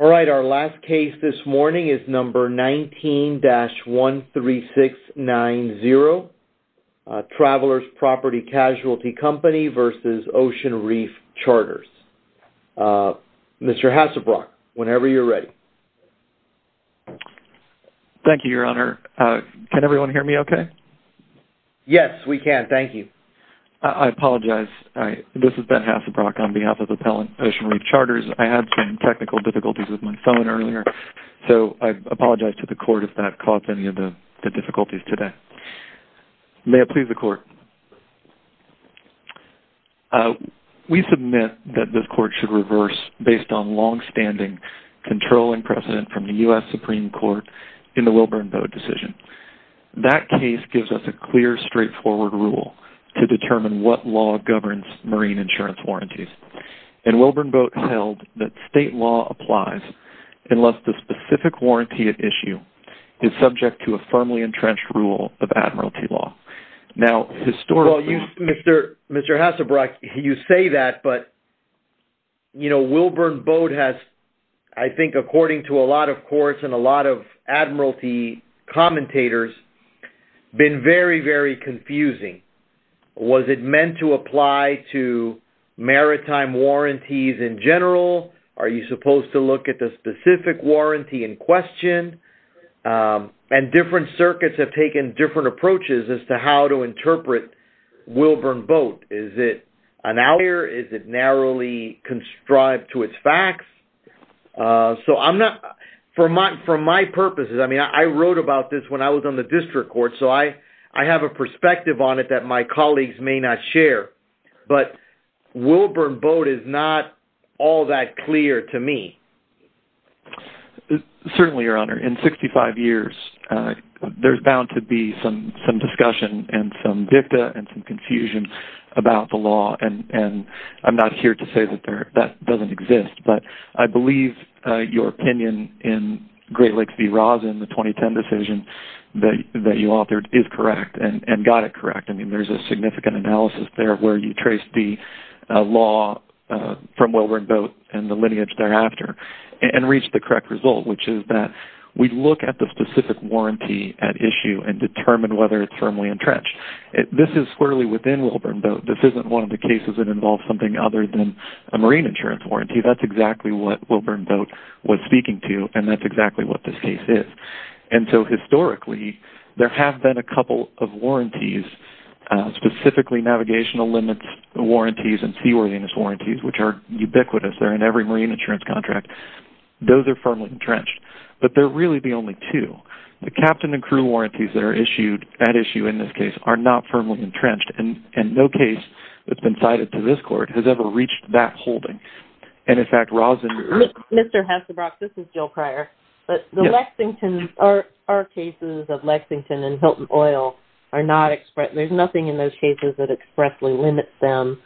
All right, our last case this morning is number 19-13690, Travelers Property Casualty Company v. Ocean Reef Charters. Mr. Hassebrock, whenever you're ready. Thank you, Your Honor. Can everyone hear me okay? Yes, we can. Thank you. I apologize. This is Ben Hassebrock on behalf of Appellant Ocean Reef Charters. I had some technical difficulties with my phone earlier. So I apologize to the court if that caused any of the difficulties today. May it please the court. We submit that this court should reverse based on longstanding controlling precedent from the U.S. Supreme Court in the Wilburn Boat decision. That case gives us a clear straightforward rule to determine what law governs marine insurance warranties. And Wilburn Boat held that state law applies unless the specific warranty at issue is subject to a firmly entrenched rule of admiralty law. Now, historically... Well, Mr. Hassebrock, you say that, but, you know, Wilburn Boat has, I think, according to a lot of courts and a lot of admiralty commentators, been very, very confusing was it meant to apply to maritime warranties in general? Are you supposed to look at the specific warranty in question? And different circuits have taken different approaches as to how to interpret Wilburn Boat. Is it an outlier? Is it narrowly conscribed to its facts? So I'm not... For my purposes, I mean, I wrote about this when I was on the district court. I have a perspective on it that my colleagues may not share, but Wilburn Boat is not all that clear to me. Certainly, Your Honor. In 65 years, there's bound to be some discussion and some dicta and some confusion about the law. And I'm not here to say that that doesn't exist, but I believe your is correct and got it correct. I mean, there's a significant analysis there where you trace the law from Wilburn Boat and the lineage thereafter and reach the correct result, which is that we look at the specific warranty at issue and determine whether it's firmly entrenched. This is squarely within Wilburn Boat. This isn't one of the cases that involves something other than a marine insurance warranty. That's exactly what Wilburn Boat was speaking to, and that's exactly what this case is. And so historically, there have been a couple of warranties, specifically navigational limits warranties and seaworthiness warranties, which are ubiquitous. They're in every marine insurance contract. Those are firmly entrenched, but they're really the only two. The captain and crew warranties that are issued at issue in this case are not firmly entrenched, and no case that's been cited to this court has ever reached that level. Our cases of Lexington and Hilton Oil are not expressed. There's nothing in those cases that expressly limits them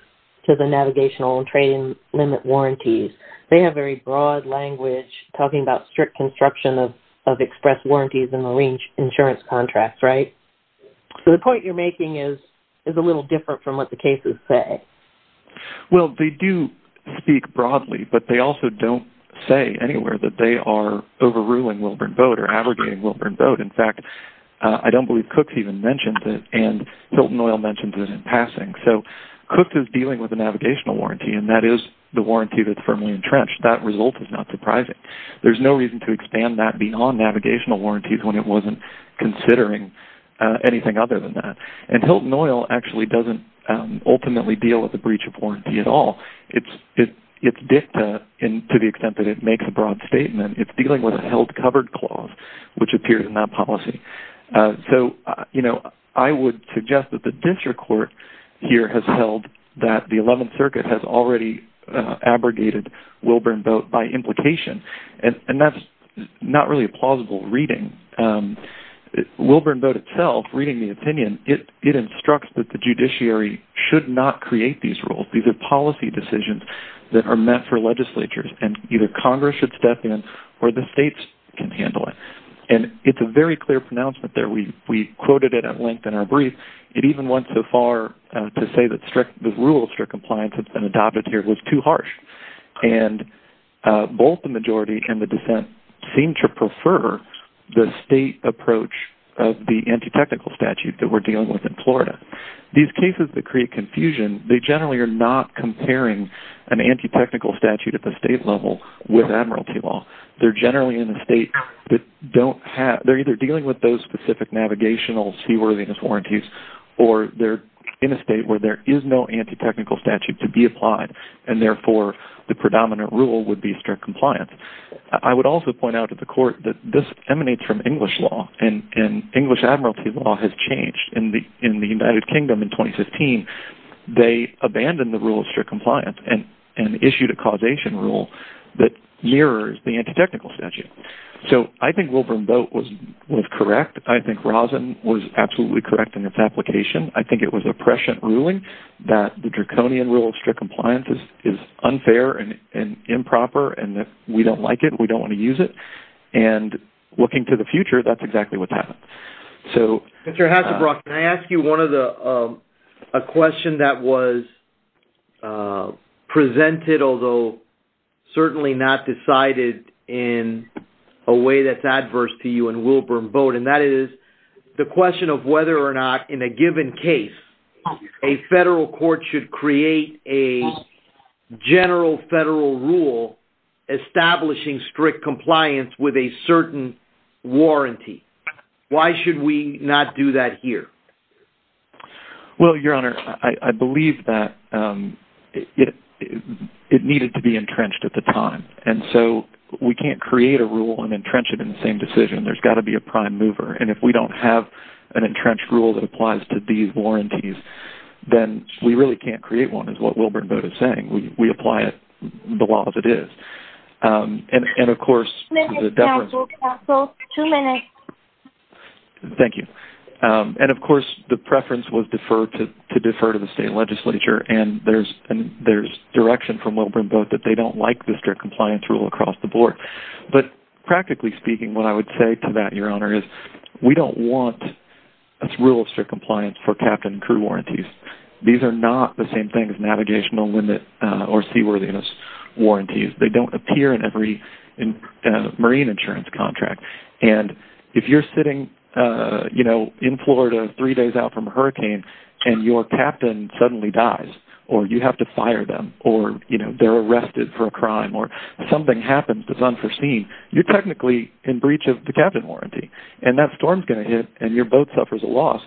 to the navigational and trade limit warranties. They have very broad language talking about strict construction of express warranties in the marine insurance contracts, right? So the point you're making is a little different from what the cases say. Well, they do speak broadly, but they also don't say anywhere that they are overruling Wilburn Boat or abrogating Wilburn Boat. In fact, I don't believe Cook even mentioned it, and Hilton Oil mentioned it in passing. So Cook is dealing with a navigational warranty, and that is the warranty that's firmly entrenched. That result is not surprising. There's no reason to expand that beyond navigational warranties when it wasn't considering anything other than that. And Hilton Oil actually doesn't ultimately deal with the breach of warranty at all. It's dicta to the extent that it makes a broad statement. It's dealing with a held covered clause, which appears in that policy. So I would suggest that the district court here has held that the 11th Circuit has already abrogated Wilburn Boat by implication, and that's not really a plausible reading. Wilburn Boat itself, reading the opinion, it instructs that the judiciary should not create these rules. These are policy decisions that are met for legislatures, and either Congress should step in or the states can handle it. And it's a very clear pronouncement there. We quoted it at length in our brief. It even went so far to say that the rule of strict compliance that's been And both the majority and the dissent seem to prefer the state approach of the anti-technical statute that we're dealing with in Florida. These cases that create confusion, they generally are not comparing an anti-technical statute at the state level with admiralty law. They're generally in a state that don't have... They're either dealing with those specific navigational seaworthiness warranties, or they're in a state where there is no anti-technical statute to be And therefore, the predominant rule would be strict compliance. I would also point out to the court that this emanates from English law, and English admiralty law has changed. In the United Kingdom in 2015, they abandoned the rule of strict compliance and issued a causation rule that mirrors the anti-technical statute. So I think Wilburn Boat was correct. I think Rosen was absolutely correct in its application. I think it was a prescient ruling that the draconian rule of strict compliance is unfair and improper, and that we don't like it, we don't want to use it. And looking to the future, that's exactly what's happened. So... Mr. Hassebrock, can I ask you one of the... A question that was presented, although certainly not decided in a way that's adverse to you and Wilburn Boat, and that is the question of whether or not, in a given case, a federal court should create a general federal rule establishing strict compliance with a certain warranty. Why should we not do that here? Well, your honor, I believe that it needed to be entrenched at the time, and so we can't create a same decision. There's got to be a prime mover, and if we don't have an entrenched rule that applies to these warranties, then we really can't create one, is what Wilburn Boat is saying. We apply it the law as it is. And of course... Two minutes, counsel. Counsel, two minutes. Thank you. And of course, the preference was to defer to the state legislature, and there's direction from Wilburn Boat that they don't like the strict compliance rule across the board. But practically speaking, what I would say to that, your honor, is we don't want a rule of strict compliance for captain and crew warranties. These are not the same thing as navigational limit or seaworthiness warranties. They don't appear in every marine insurance contract. And if you're sitting in Florida three days out from a hurricane, and your captain suddenly dies, or you have to foresee, you're technically in breach of the captain warranty. And that storm's going to hit, and your boat suffers a loss.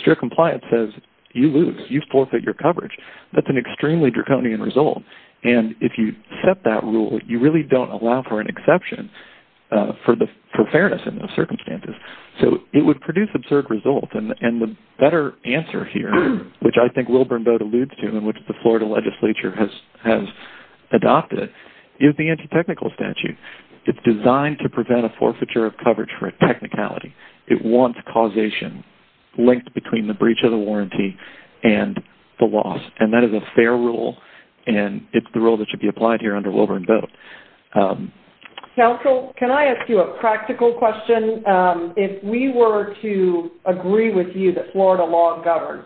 Strict compliance says, you lose, you forfeit your coverage. That's an extremely draconian result. And if you set that rule, you really don't allow for an exception for fairness in those circumstances. So it would produce absurd results. And the better answer here, which I think Wilburn Boat alludes to, and which the Florida legislature has adopted, is the anti-technical statute. It's designed to prevent a forfeiture of coverage for a technicality. It wants causation linked between the breach of the warranty and the loss. And that is a fair rule, and it's the rule that should be applied here under Wilburn Boat. Counsel, can I ask you a practical question? If we were to agree with you that Florida law governs,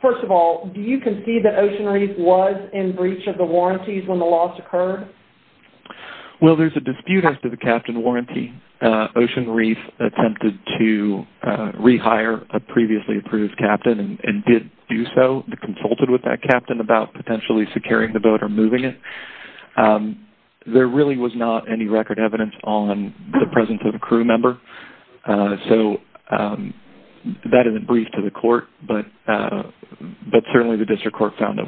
first of all, do you concede that Ocean Reef was in breach of the warranties when the loss occurred? Well, there's a dispute as to the captain warranty. Ocean Reef attempted to rehire a previously approved captain, and did do so. They consulted with that captain about potentially securing the boat or moving it. There really was not any record evidence on the presence of a crew member. So that isn't brief to the court, but certainly the district court found that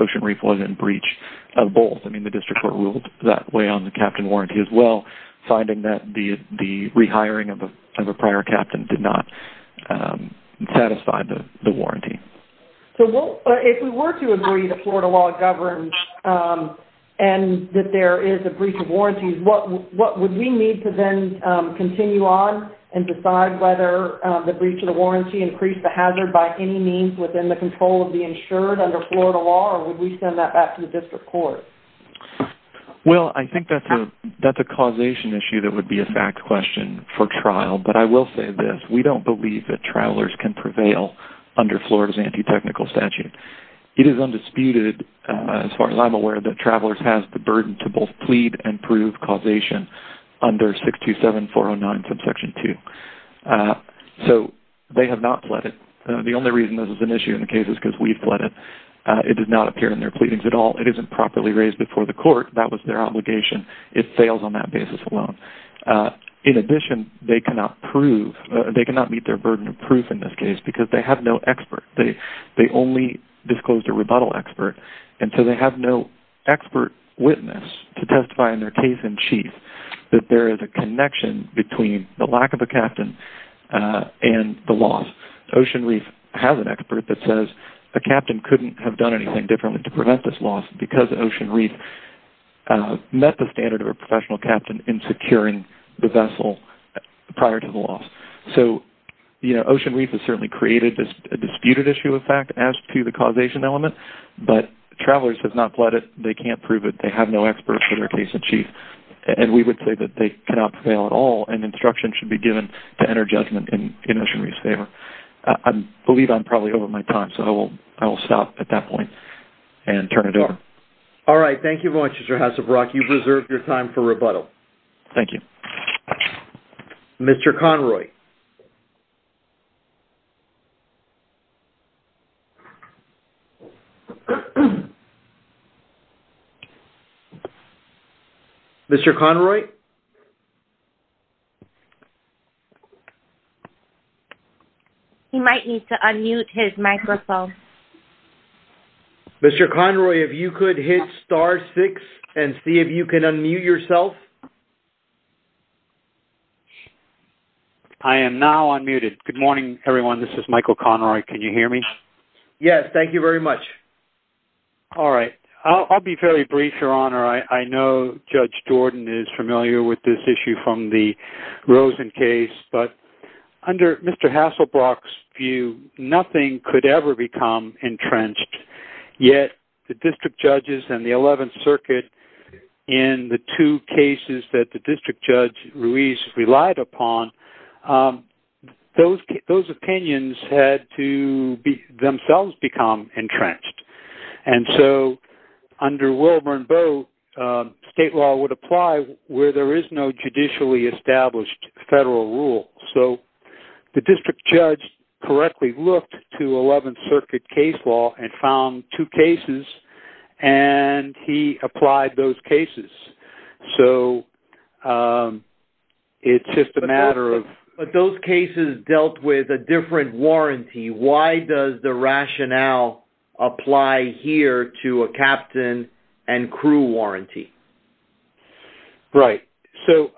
Ocean Reef was in breach of both. I mean, the district court ruled that way on the captain warranty as well, finding that the rehiring of a prior captain did not satisfy the warranty. So if we were to agree that Florida law governs and that there is a breach of warranties, what would we need to then continue on and decide whether the breach of the warranty increased the hazard by any means within the control of the insured under Florida law, or would we send that back to the district court? Well, I think that's a causation issue that would be a fact question for trial, but I will say this. We don't believe that travelers can prevail under Florida's anti-technical statute. It is undisputed, as far as I'm aware, that travelers have the burden to both plead and prove causation under 627-409 subsection 2. So they have not fled it. The only reason this is an issue in the case is because we fled it. It did not appear in their pleadings at all. It isn't properly raised before the court. That was their obligation. It fails on that basis alone. In addition, they cannot prove, they cannot meet their burden of proof in this case because they have no expert. They only disclosed a rebuttal expert, and so they have no expert witness to testify in their case in chief that there is a connection between the lack of a captain and the loss. Ocean Reef has an expert that says a captain couldn't have done anything differently to prevent this loss because Ocean Reef met the standard of a professional captain in securing the vessel prior to the loss. So Ocean Reef has certainly created a disputed issue of fact as to the causation element, but travelers have not fled it. They can't prove it. They have no expert for their case in chief, and we would say that they cannot prevail at all, and instruction should be given to enter judgment in Ocean Reef's favor. I believe I'm probably over my time, so I will stop at that point and turn it over. All right. Thank you very much, Mr. Hassebrock. You've reserved your time for rebuttal. Thank you. Mr. Conroy? Mr. Conroy? He might need to unmute his microphone. Mr. Conroy, if you could hit star six and see if you can unmute yourself. I am now unmuted. Good morning, everyone. This is Michael Conroy. Can you hear me? Yes. Thank you very much. All right. I'll be fairly brief, Your Honor. I know Judge Jordan is familiar with this issue from the Rosen case, but under Mr. Hasselbrock's view, nothing could ever become entrenched, yet the district judges and the 11th Circuit, in the two cases that the district judge, Ruiz, relied upon, those opinions had to themselves become entrenched, and so under Wilbur and Boe, state law would apply where there is no judicially established federal rule. So the district judge correctly looked to 11th Circuit case law and found two cases, and he applied those cases. So it's just a matter of... But those cases dealt with a different warranty. Why does the rationale apply here to a captain and crew warranty? Right. So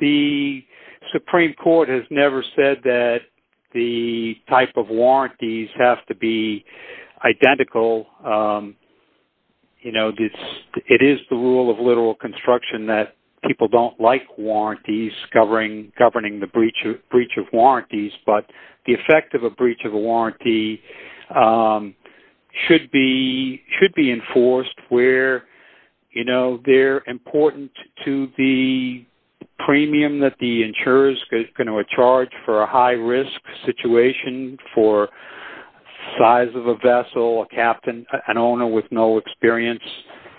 the Supreme Court has never said that the type of warranties have to be identical. It is the rule of literal construction that people don't like warranties governing the breach of warranties, but the effect of a breach of a warranty should be enforced where they're important to the premium that the insurer's going to charge for a high-risk situation for size of a vessel, a captain, an owner with no experience,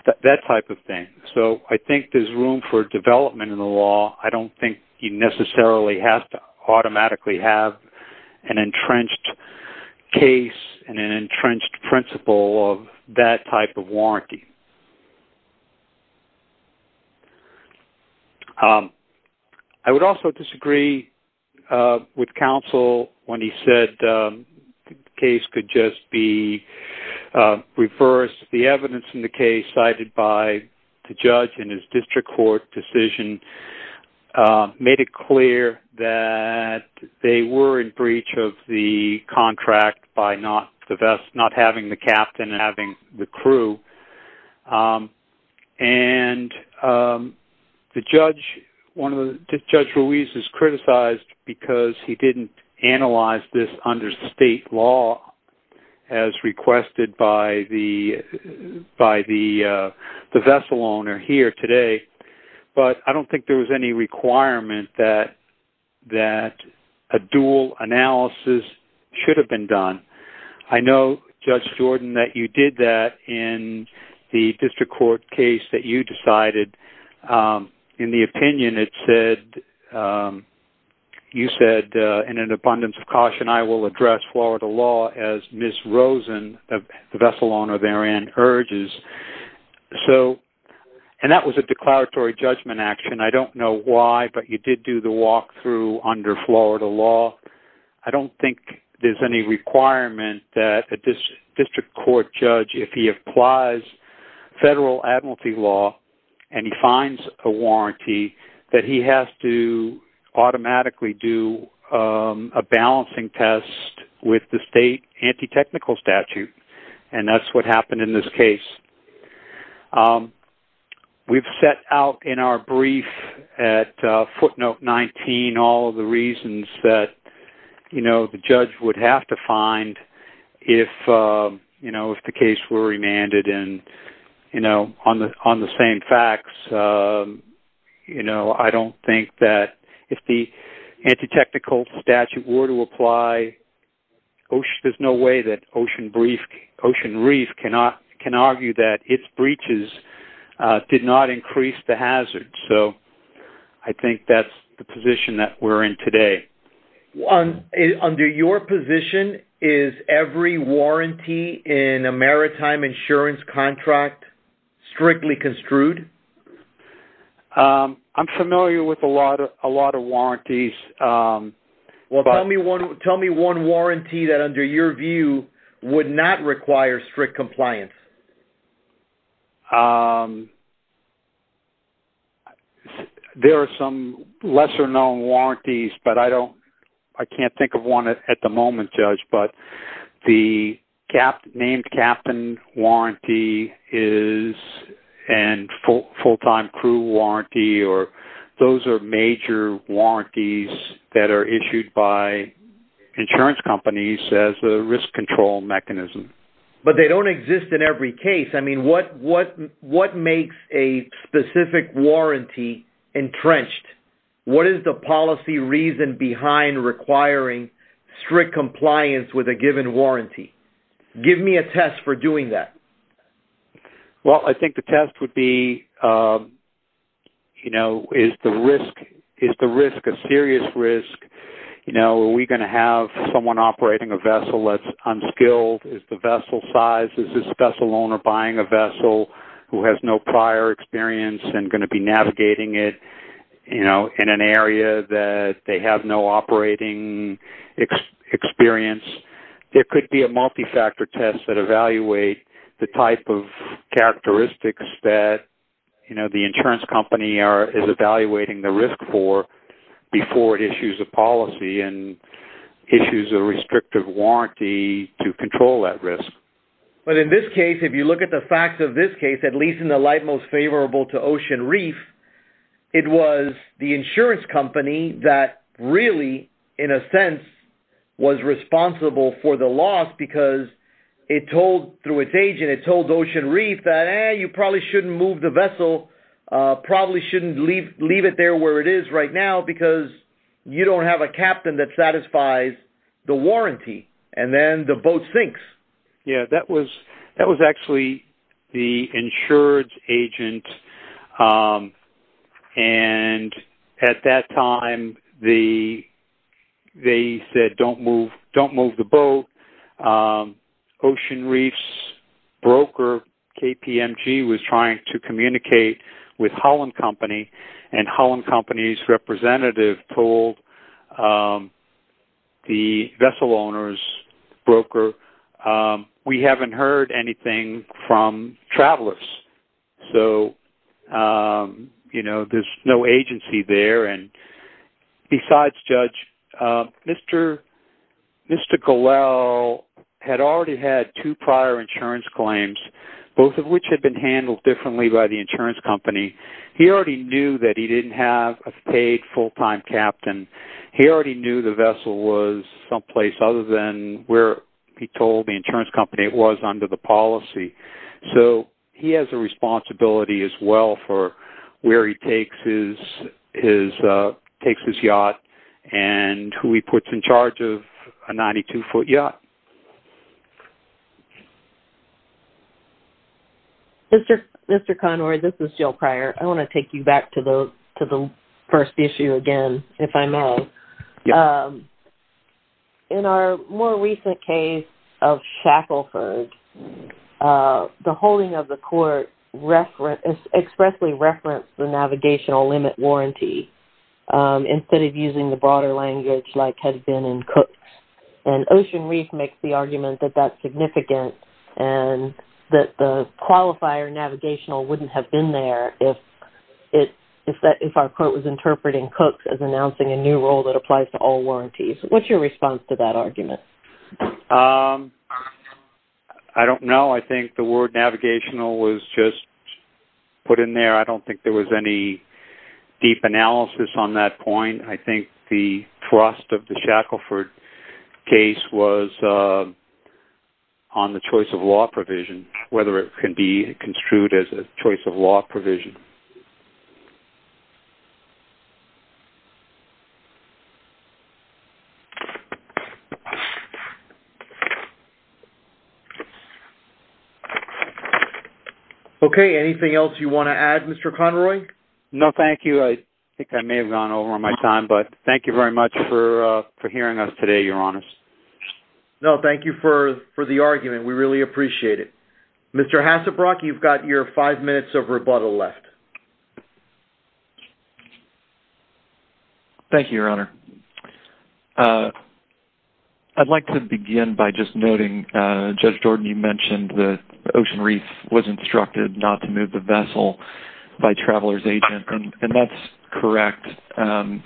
that type of thing. So I think there's room for development in the law. I don't think you necessarily have to automatically have an entrenched case and an entrenched principle of that type of warranty. I would also disagree with counsel when he said the case could just be reversed. The evidence in the case cited by the judge in his district court decision made it clear that they were in breach of the contract by not having the captain and having the crew. And Judge Ruiz is criticized because he didn't analyze this under state law as requested by the vessel owner here today. But I don't think there was any requirement that a dual analysis should have been done. I know, Judge Jordan, that you did that in the district court case that you decided. In the opinion, it said, and you said, in an abundance of caution, I will address Florida law as Ms. Rosen, the vessel owner therein, urges. And that was a declaratory judgment action. I don't know why, but you did do the walkthrough under Florida law. I don't think there's any requirement that a district court judge, if he applies federal admiralty law and he finds a warranty, that he has to automatically do a balancing test with the state anti-technical statute. And that's what happened in this case. We've set out in our brief at footnote 19, all of the reasons that the judge would have to find if the case were remanded. And on the same facts, I don't think that if the anti-technical statute were to apply, there's no way that Ocean Reef can argue that its breaches did not increase the hazard. So I think that's the position that we're in today. On, under your position, is every warranty in a maritime insurance contract strictly construed? I'm familiar with a lot of, a lot of warranties. Well, tell me one, tell me one warranty that under your view would not require strict compliance. Um, there are some lesser known warranties, but I don't, I can't think of one at the moment judge, but the cap named captain warranty is, and full full-time crew warranty, or those are major warranties that are issued by insurance companies as a risk control mechanism. But they don't exist in every case. I mean, what, what, what makes a specific warranty entrenched? What is the policy reason behind requiring strict compliance with a given warranty? Give me a test for doing that. Well, I think the test would be, um, you know, is the risk, is the risk of serious risk? You know, are we going to have someone operating a vessel that's unskilled? Is the vessel size, is this vessel owner buying a vessel who has no prior experience and going to be navigating it, you know, in an area that they have no operating experience? There could be a multi-factor test that evaluate the type of characteristics that, you know, the insurance company are, is evaluating the risk for before it issues a policy and issues a restrictive warranty to control that risk. But in this case, if you look at the facts of this case, at least in the light most favorable to Ocean Reef, it was the insurance company that really in a sense was responsible for the loss because it told through its agent, it told Ocean Reef that, eh, you probably shouldn't move the boat because you don't have a captain that satisfies the warranty. And then the boat sinks. Yeah, that was, that was actually the insurance agent. Um, and at that time the, they said, don't move, don't move the boat. Um, Ocean Reef's broker KPMG was trying to communicate with Holland Company and Holland Company's representative told, um, the vessel owner's broker, um, we haven't heard anything from travelers. So, um, you know, there's no agency there. And besides Judge, um, Mr, Mr. Golel had already had two prior insurance claims, both of which had been handled differently by the insurance company. He already knew that he didn't have a paid full-time captain. He already knew the vessel was someplace other than where he told the insurance company it was under the policy. So he has a responsibility as well for where he takes his, his, uh, takes his yacht and who he puts in charge of a 92 foot yacht. Mr. Mr. Conroy, this is Jill Pryor. I want to take you back to the, to the first issue again, if I may. Um, in our more recent case of Shackleford, uh, the holding of the court reference expressly referenced the navigational limit warranty, um, instead of using the broader language like had been in Cooks. And Ocean Reef makes the argument that that's significant and that the qualifier navigational wouldn't have been there if it, if that, if our court was interpreting Cooks as announcing a new rule that applies to all warranties. What's your response to that argument? Um, I don't know. I think the word analysis on that point, I think the thrust of the Shackleford case was, uh, on the choice of law provision, whether it can be construed as a choice of law provision. Okay. Anything else you want to add, Mr. Conroy? No, thank you. I think I may have gone over my time, but thank you very much for, uh, for hearing us today, your honors. No, thank you for, for the argument. We really appreciate it. Mr. Hasabrock, you've got your five minutes of rebuttal left. Thank you, your honor. Uh, I'd like to begin by just noting, uh, Judge Jordan, you mentioned the Ocean Reef was instructed not to move the vessel by traveler's agent and that's correct. Um,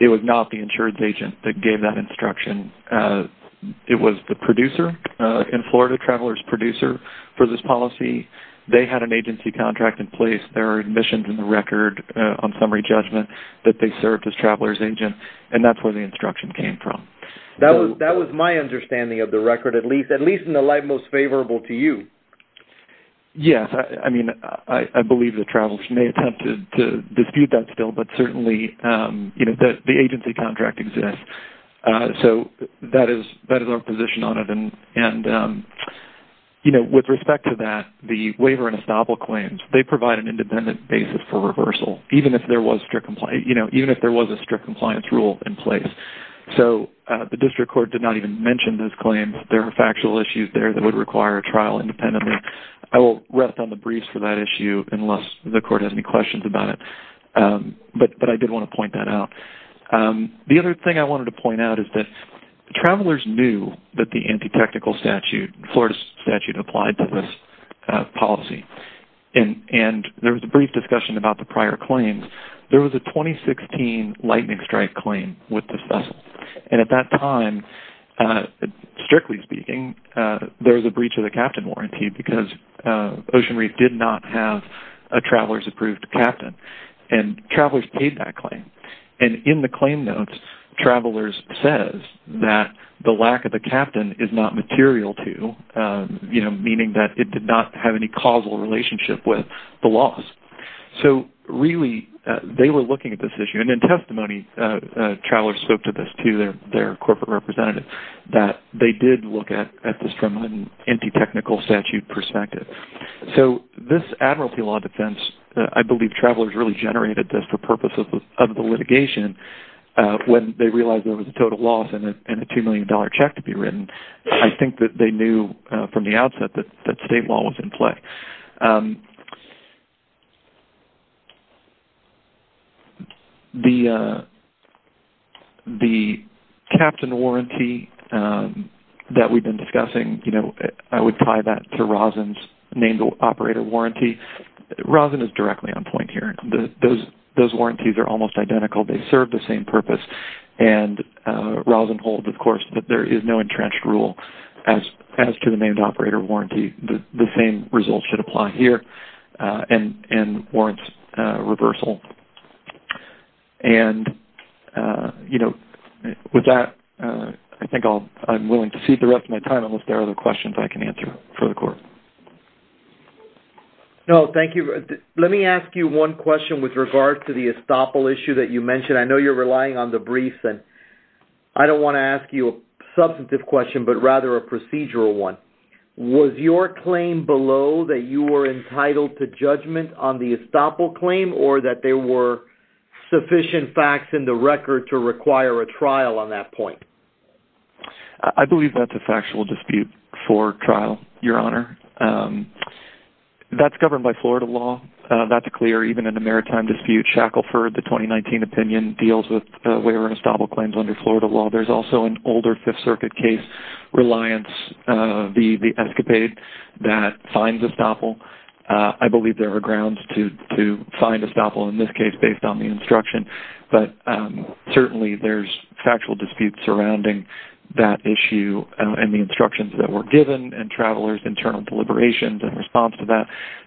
it was not the insurance agent that gave that instruction. Uh, it was the producer, in Florida, traveler's producer for this policy. They had an agency contract in place. There are admissions in the record, uh, on summary judgment that they served as traveler's agent and that's where the instruction came from. That was, that was my understanding of the record, at least, at least in the light most favorable to you. Yes. I mean, I, I believe the travelers may attempt to dispute that still, but certainly, um, you know, that the agency contract exists. Uh, so that is, that is our position on it. And, and, um, you know, with respect to that, the waiver and estoppel claims, they provide an independent basis for reversal, even if there was strict compliance, you know, even if there was a strict compliance rule in place. So, uh, the district court did not even mention this claim. There were factual issues there that would require a trial independently. I will rest on the briefs for that issue unless the court has any questions about it. Um, but, but I did want to point that out. Um, the other thing I wanted to point out is that travelers knew that the anti-technical statute, Florida statute applied to this, uh, policy. And, and there was a brief discussion about the prior claims. There was a 2016 lightning strike claim with this vessel. And at that time, uh, strictly speaking, uh, there was a breach of the captain warranty because, uh, Ocean Reef did not have a traveler's approved captain and travelers paid that claim. And in the claim notes, travelers says that the lack of the captain is not material to, um, you know, meaning that it did not have any causal relationship with the loss. So really, uh, they were looking at this issue and in testimony, uh, uh, travelers spoke to this to their, their corporate representative that they did look at, at this from an anti-technical statute perspective. So this admiralty law defense, I believe travelers really generated this for purposes of the litigation, uh, when they realized there was a total loss and a $2 million check to be written. I think that they knew from the outset that, that state law was in play. Um, the, uh, the captain warranty, um, that we've been discussing, you know, I would tie that to Rosin's named operator warranty. Rosin is directly on point here. Those, those warranties are almost identical. They serve the same purpose and, uh, Rosin holds, of course, that there is no entrenched rule as, as to the named operator warranty. The, the same results should apply here, uh, and, and warrants, uh, reversal. And, uh, you know, with that, uh, I think I'll, I'm willing to cede the rest of my time unless there are other I can answer for the court. No, thank you. Let me ask you one question with regard to the estoppel issue that you mentioned. I know you're relying on the briefs and I don't want to ask you a substantive question, but rather a procedural one. Was your claim below that you were entitled to judgment on the estoppel claim or that there were sufficient facts in the record to require a trial on that point? I believe that's a factual dispute for trial, Your Honor. Um, that's governed by Florida law. Uh, that's a clear, even in a maritime dispute, Shackleford, the 2019 opinion deals with, uh, waiver and estoppel claims under Florida law. There's also an older fifth circuit case reliance, uh, the, the escapade that finds estoppel. Uh, I believe there are grounds to, to find estoppel in this case, based on the instruction, but, um, certainly there's factual disputes surrounding that issue and the instructions that were given and travelers internal deliberations in response to that.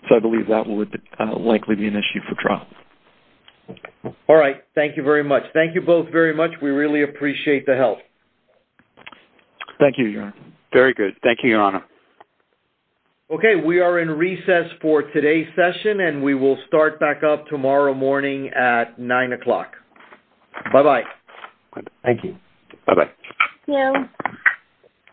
So I believe that would likely be an issue for trial. All right. Thank you very much. Thank you both very much. We really appreciate the help. Thank you, Your Honor. Very good. Thank you, Your Honor. Okay. We are in recess for today's session and we will start back up tomorrow morning at nine o'clock. Bye-bye. Thank you. Bye-bye.